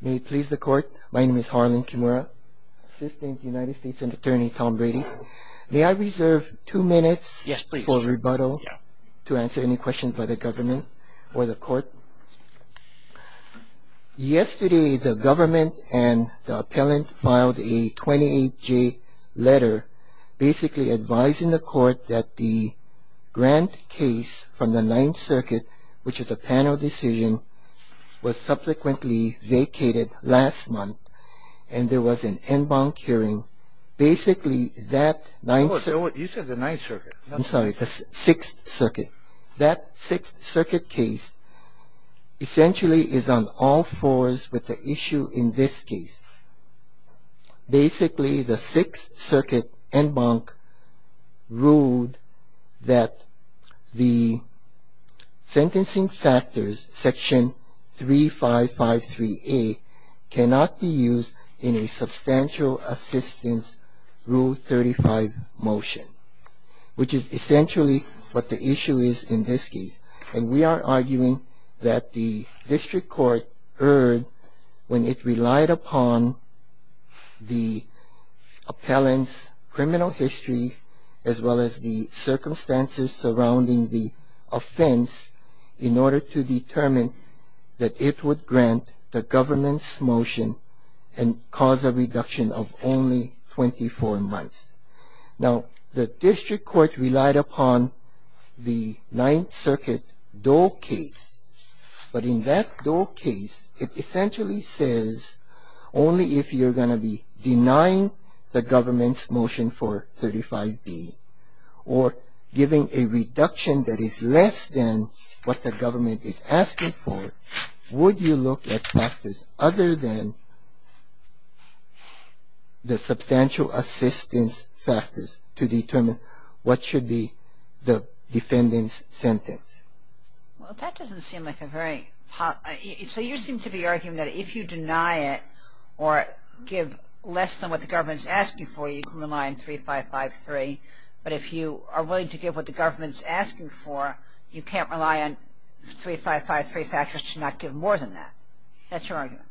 May it please the court, my name is Harlan Kimura, Assistant United States Attorney Tom Brady. May I reserve two minutes for rebuttal to answer any questions by the government or the court? Yesterday the government and the appellant filed a 28-J letter basically advising the court that the court indicated last month and there was an en banc hearing, basically that... You said the Ninth Circuit. I'm sorry, the Sixth Circuit. That Sixth Circuit case essentially is on all fours with the issue in this case. Basically, the Sixth Circuit en banc ruled that the sentencing factors, section 3553A, cannot be used in a substantial assistance Rule 35 motion, which is essentially what the issue is in this case. And we are arguing that the district court erred when it relied upon the appellant's criminal history as well as the circumstances surrounding the offense in order to determine that it would grant the government's motion and cause a reduction of only 24 months. Now, the district court relied upon the Ninth Circuit Doe case, but in that Doe case, it essentially says only if you're going to be denying the government's motion for 35B or giving a reduction that is less than what the government is asking for, would you look at factors other than the substantial assistance factors to determine what should be the defendant's sentence. Well, that doesn't seem like a very... So you seem to be arguing that if you deny it or give less than what the government is asking for, you can rely on 3553, but if you are willing to give what the government is asking for, you can't rely on 3553 factors to not give more than that. That's your argument.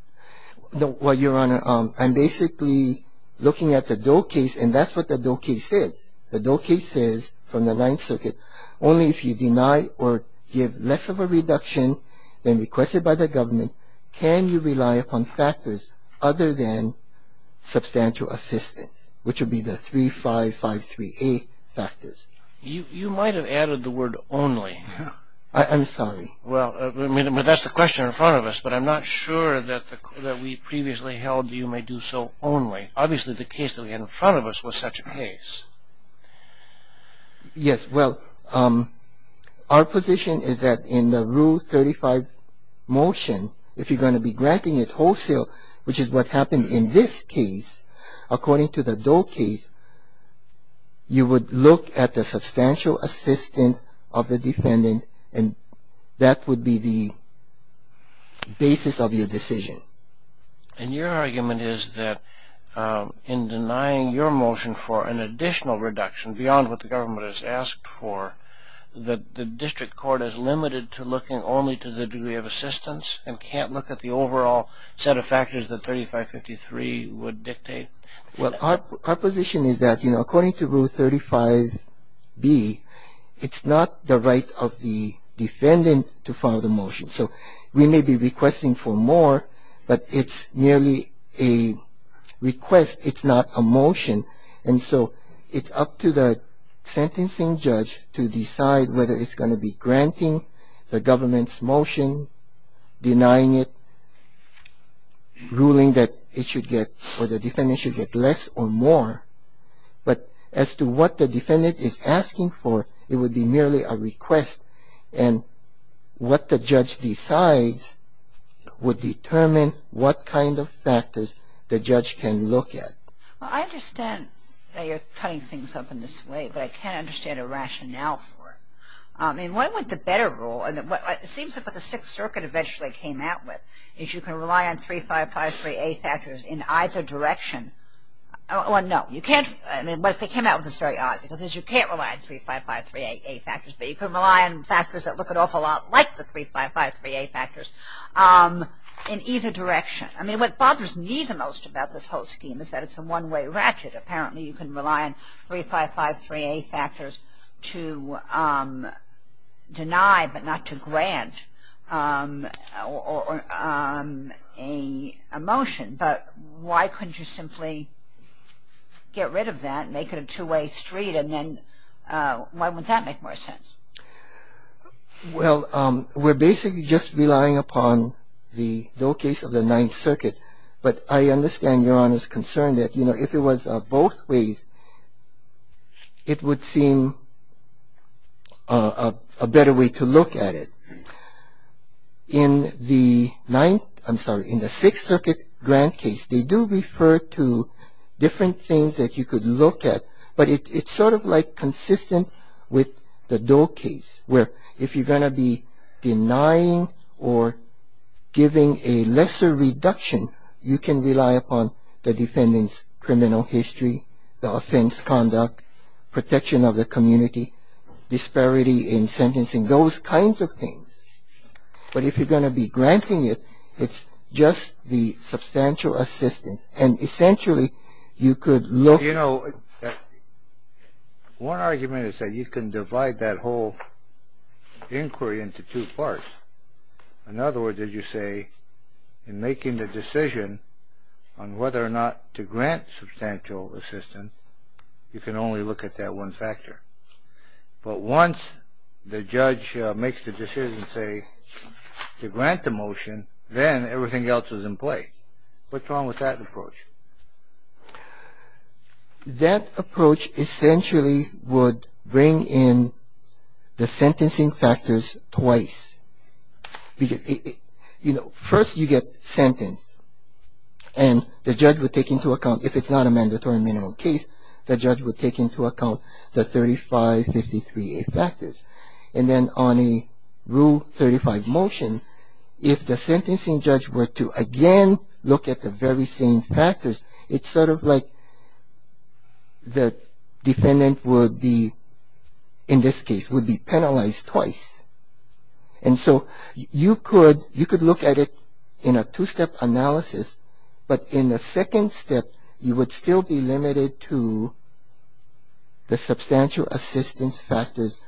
Well, Your Honor, I'm basically looking at the Doe case, and that's what the Doe case says. The Doe case says from the Ninth Circuit, only if you deny or give less of a reduction than requested by the government can you rely upon factors other than substantial assistance, which would be the 3553A factors. You might have added the word only. I'm sorry. Well, that's the question in front of us, but I'm not sure that we previously held you may do so only. Obviously, the case that we had in front of us was such a case. Yes, well, our position is that in the Rule 35 motion, if you're going to be granting it wholesale, which is what happened in this case, according to the Doe case, you would look at the substantial assistance of the defendant, and that would be the basis of your decision. And your argument is that in denying your motion for an additional reduction beyond what the government has asked for, the district court is limited to looking only to the degree of assistance and can't look at the overall set of factors that 3553 would dictate? Well, our position is that, you know, according to Rule 35B, it's not the right of the defendant to file the motion. So we may be requesting for more, but it's merely a request. It's not a motion. And so it's up to the sentencing judge to decide whether it's going to be granting the government's motion, denying it, ruling that it should get or the defendant should get less or more. But as to what the defendant is asking for, it would be merely a request, and what the judge decides would determine what kind of factors the judge can look at. Well, I understand that you're cutting things up in this way, but I can't understand a rationale for it. I mean, what would the better rule, and it seems like what the Sixth Circuit eventually came out with, is you can rely on 3553A factors in either direction. Well, no, you can't. I mean, what they came out with is very odd, because you can't rely on 3553A factors, but you can rely on factors that look an awful lot like the 3553A factors in either direction. I mean, what bothers me the most about this whole scheme is that it's a one-way ratchet. Apparently you can rely on 3553A factors to deny but not to grant a motion. But why couldn't you simply get rid of that, make it a two-way street, and then why wouldn't that make more sense? Well, we're basically just relying upon the low case of the Ninth Circuit. But I understand Your Honor's concern that, you know, if it was both ways, it would seem a better way to look at it. In the Sixth Circuit grant case, they do refer to different things that you could look at, but it's sort of like consistent with the Doe case, where if you're going to be denying or giving a lesser reduction, you can rely upon the defendant's criminal history, the offense conduct, protection of the community, disparity in sentencing, those kinds of things. But if you're going to be granting it, it's just the substantial assistance, and essentially you could look... You know, one argument is that you can divide that whole inquiry into two parts. In other words, as you say, in making the decision on whether or not to grant substantial assistance, you can only look at that one factor. But once the judge makes the decision, say, to grant the motion, then everything else is in place. What's wrong with that approach? That approach essentially would bring in the sentencing factors twice. Because, you know, first you get sentenced, and the judge would take into account, if it's not a mandatory minimum case, the judge would take into account the 3553A factors. And then on a Rule 35 motion, if the sentencing judge were to again look at the very same factors, it's sort of like the defendant would be, in this case, would be penalized twice. And so you could look at it in a two-step analysis, but in the second step, you would still be limited to the substantial assistance factors,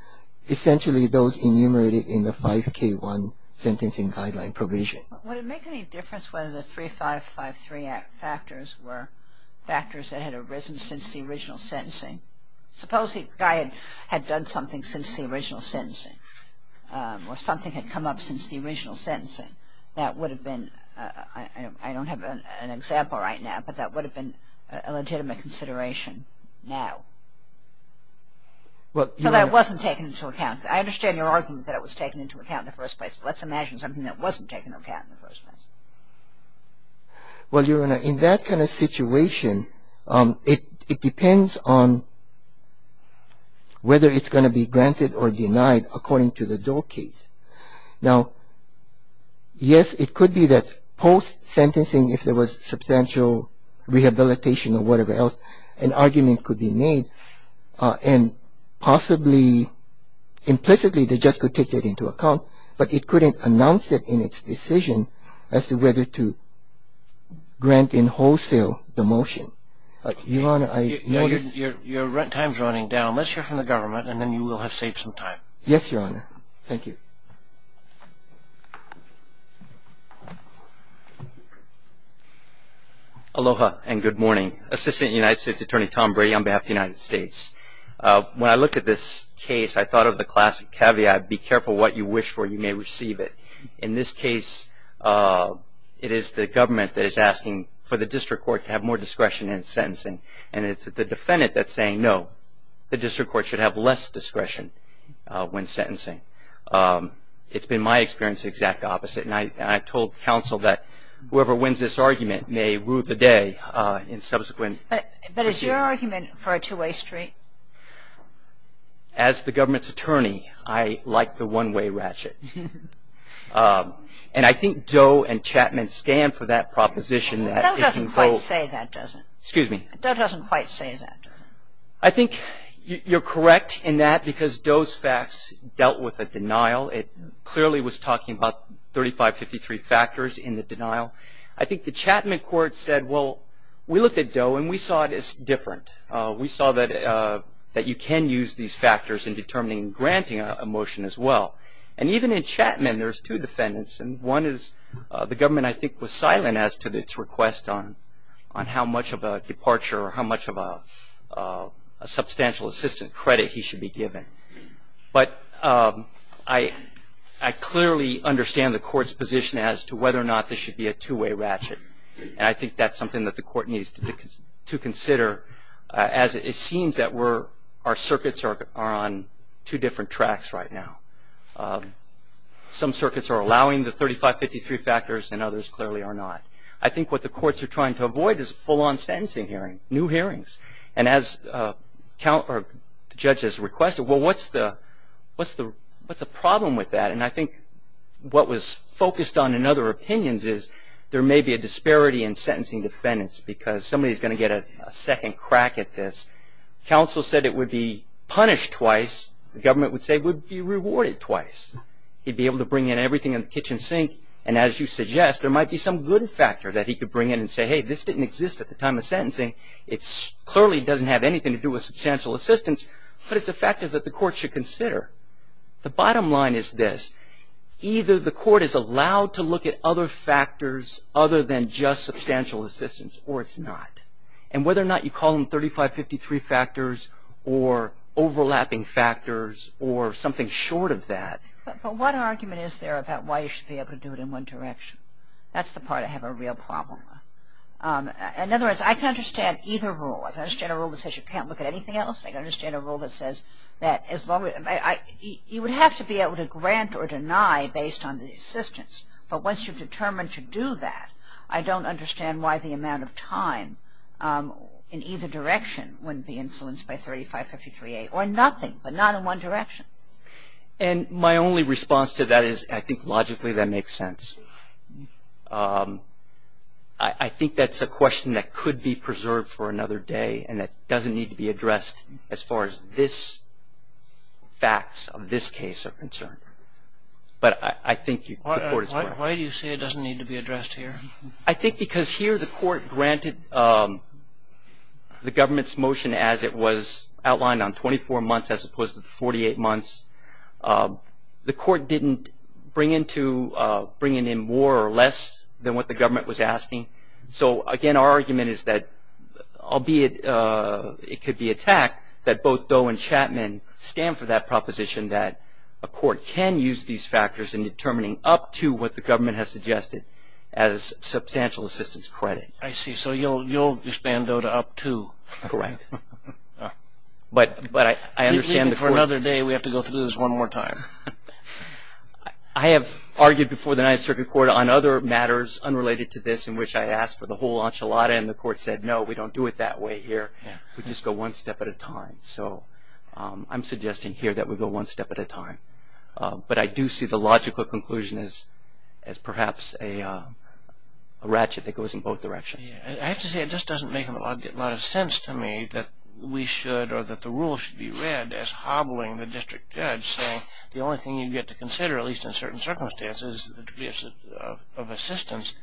essentially those enumerated in the 5K1 sentencing guideline provision. Would it make any difference whether the 3553A factors were factors that had arisen since the original sentencing? Suppose the guy had done something since the original sentencing, or something had come up since the original sentencing. That would have been, I don't have an example right now, but that would have been a legitimate consideration now. So that wasn't taken into account. I understand your argument that it was taken into account in the first place, but let's imagine something that wasn't taken into account in the first place. Well, Your Honor, in that kind of situation, it depends on whether it's going to be granted or denied according to the Doe case. Now, yes, it could be that post-sentencing, if there was substantial rehabilitation or whatever else, an argument could be made and possibly implicitly the judge could take it into account, but it couldn't announce it in its decision as to whether to grant in wholesale the motion. Your Honor, I notice your rent time is running down. Let's hear from the government, and then you will have saved some time. Yes, Your Honor. Thank you. Aloha and good morning. Assistant United States Attorney Tom Brady on behalf of the United States. When I looked at this case, I thought of the classic caveat, be careful what you wish for, you may receive it. In this case, it is the government that is asking for the district court to have more discretion in sentencing, and it's the defendant that's saying no, the district court should have less discretion when sentencing. It's been my experience the exact opposite, and I told counsel that whoever wins this argument may rue the day in subsequent proceedings. But is your argument for a two-way street? As the government's attorney, I like the one-way ratchet. And I think Doe and Chapman scanned for that proposition. Doe doesn't quite say that, does he? Excuse me? Doe doesn't quite say that, does he? I think you're correct in that because Doe's facts dealt with a denial. It clearly was talking about 3553 factors in the denial. I think the Chapman court said, well, we looked at Doe, and we saw it as different. We saw that you can use these factors in determining granting a motion as well. And even in Chapman, there's two defendants, and one is the government I think was silent as to its request on how much of a departure or how much of a substantial assistant credit he should be given. But I clearly understand the court's position as to whether or not there should be a two-way ratchet, and I think that's something that the court needs to consider as it seems that our circuits are on two different tracks right now. Some circuits are allowing the 3553 factors and others clearly are not. I think what the courts are trying to avoid is a full-on sentencing hearing, new hearings. And as the judge has requested, well, what's the problem with that? And I think what was focused on in other opinions is there may be a disparity in sentencing defendants because somebody's going to get a second crack at this. Counsel said it would be punished twice. The government would say it would be rewarded twice. He'd be able to bring in everything in the kitchen sink, and as you suggest, there might be some good factor that he could bring in and say, hey, this didn't exist at the time of sentencing. It clearly doesn't have anything to do with substantial assistance, but it's a factor that the court should consider. The bottom line is this. Either the court is allowed to look at other factors other than just substantial assistance or it's not. And whether or not you call them 3553 factors or overlapping factors or something short of that. But what argument is there about why you should be able to do it in one direction? That's the part I have a real problem with. In other words, I can understand either rule. I can understand a rule that says you can't look at anything else. I can understand a rule that says you would have to be able to grant or deny based on the assistance. But once you've determined to do that, I don't understand why the amount of time in either direction wouldn't be influenced by 3553A or nothing, but not in one direction. And my only response to that is I think logically that makes sense. I think that's a question that could be preserved for another day and that doesn't need to be addressed as far as this facts of this case are concerned. But I think the court is correct. Why do you say it doesn't need to be addressed here? I think because here the court granted the government's motion as it was outlined on 24 months as opposed to 48 months. The court didn't bring in more or less than what the government was asking. So, again, our argument is that, albeit it could be attacked, that both Doe and Chapman stand for that proposition that a court can use these factors in determining up to what the government has suggested as substantial assistance credit. I see. So you'll expand Doe to up to. Correct. But I understand the court. For another day we have to go through this one more time. I have argued before the Ninth Circuit Court on other matters unrelated to this in which I asked for the whole enchilada and the court said, no, we don't do it that way here. We just go one step at a time. So I'm suggesting here that we go one step at a time. But I do see the logical conclusion as perhaps a ratchet that goes in both directions. I have to say it just doesn't make a lot of sense to me that we should or that the rule should be read as hobbling the district judge saying the only thing you get to consider, at least in certain circumstances, is the degree of assistance.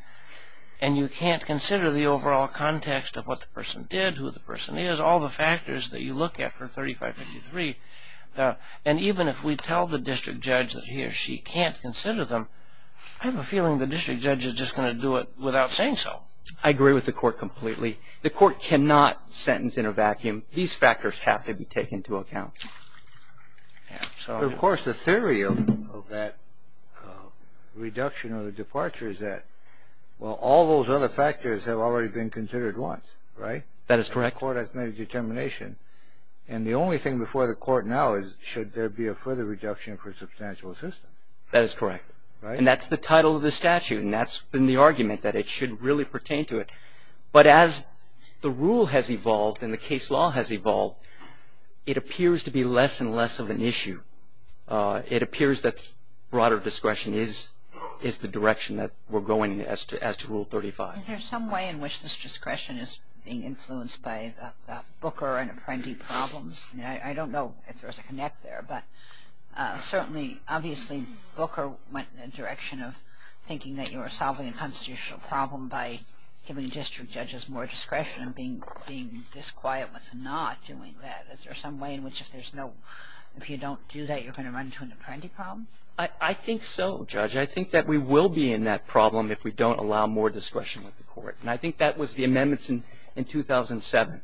And you can't consider the overall context of what the person did, who the person is, all the factors that you look at for 3553. And even if we tell the district judge that he or she can't consider them, I have a feeling the district judge is just going to do it without saying so. I agree with the court completely. The court cannot sentence in a vacuum. These factors have to be taken into account. Of course, the theory of that reduction or the departure is that, well, all those other factors have already been considered once, right? That is correct. The court has made a determination. And the only thing before the court now is should there be a further reduction for substantial assistance? That is correct. And that's the title of the statute, and that's been the argument that it should really pertain to it. But as the rule has evolved and the case law has evolved, it appears to be less and less of an issue. It appears that broader discretion is the direction that we're going as to Rule 35. Is there some way in which this discretion is being influenced by the Booker and Apprendi problems? I don't know if there's a connect there, but certainly, obviously, Booker went in the direction of thinking that you were solving a constitutional problem by giving district judges more discretion and being this quiet with not doing that. Is there some way in which if you don't do that, you're going to run into an Apprendi problem? I think so, Judge. I think that we will be in that problem if we don't allow more discretion with the court. And I think that was the amendments in 2007.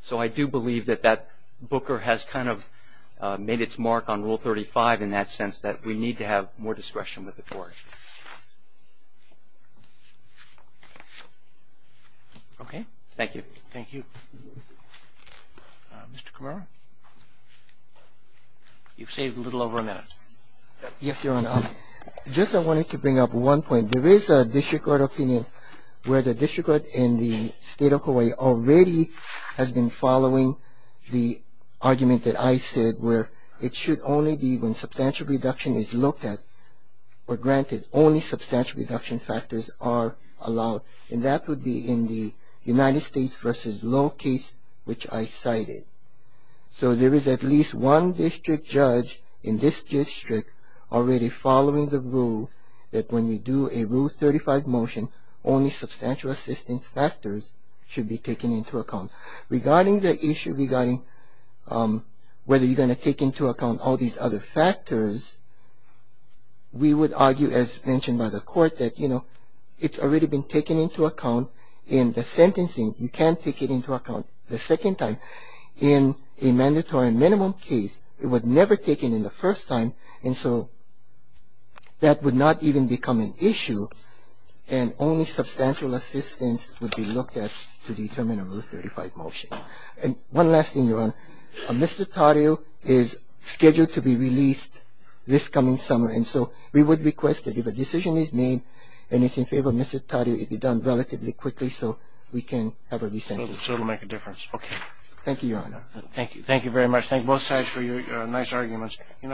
So I do believe that that Booker has kind of made its mark on Rule 35 in that sense, that we need to have more discretion with the court. Okay. Thank you. Thank you. Mr. Kamara? You've saved a little over a minute. Yes, Your Honor. Just I wanted to bring up one point. There is a district court opinion where the district court in the state of Hawaii already has been following the argument that I said where it should only be when substantial reduction is looked at or granted, only substantial reduction factors are allowed. And that would be in the United States v. Low case, which I cited. So there is at least one district judge in this district already following the rule that when you do a Rule 35 motion, only substantial assistance factors should be taken into account. Regarding the issue regarding whether you're going to take into account all these other factors, we would argue as mentioned by the court that, you know, it's already been taken into account in the sentencing. You can't take it into account the second time. In a mandatory minimum case, it was never taken in the first time. And so that would not even become an issue. And only substantial assistance would be looked at to determine a Rule 35 motion. And one last thing, Your Honor. Mr. Taddeo is scheduled to be released this coming summer. And so we would request that if a decision is made and it's in favor of Mr. Taddeo, it be done relatively quickly so we can have a re-sentence. So it will make a difference. Okay. Thank you, Your Honor. Thank you. Thank you very much. Thank you. Both sides for your nice arguments.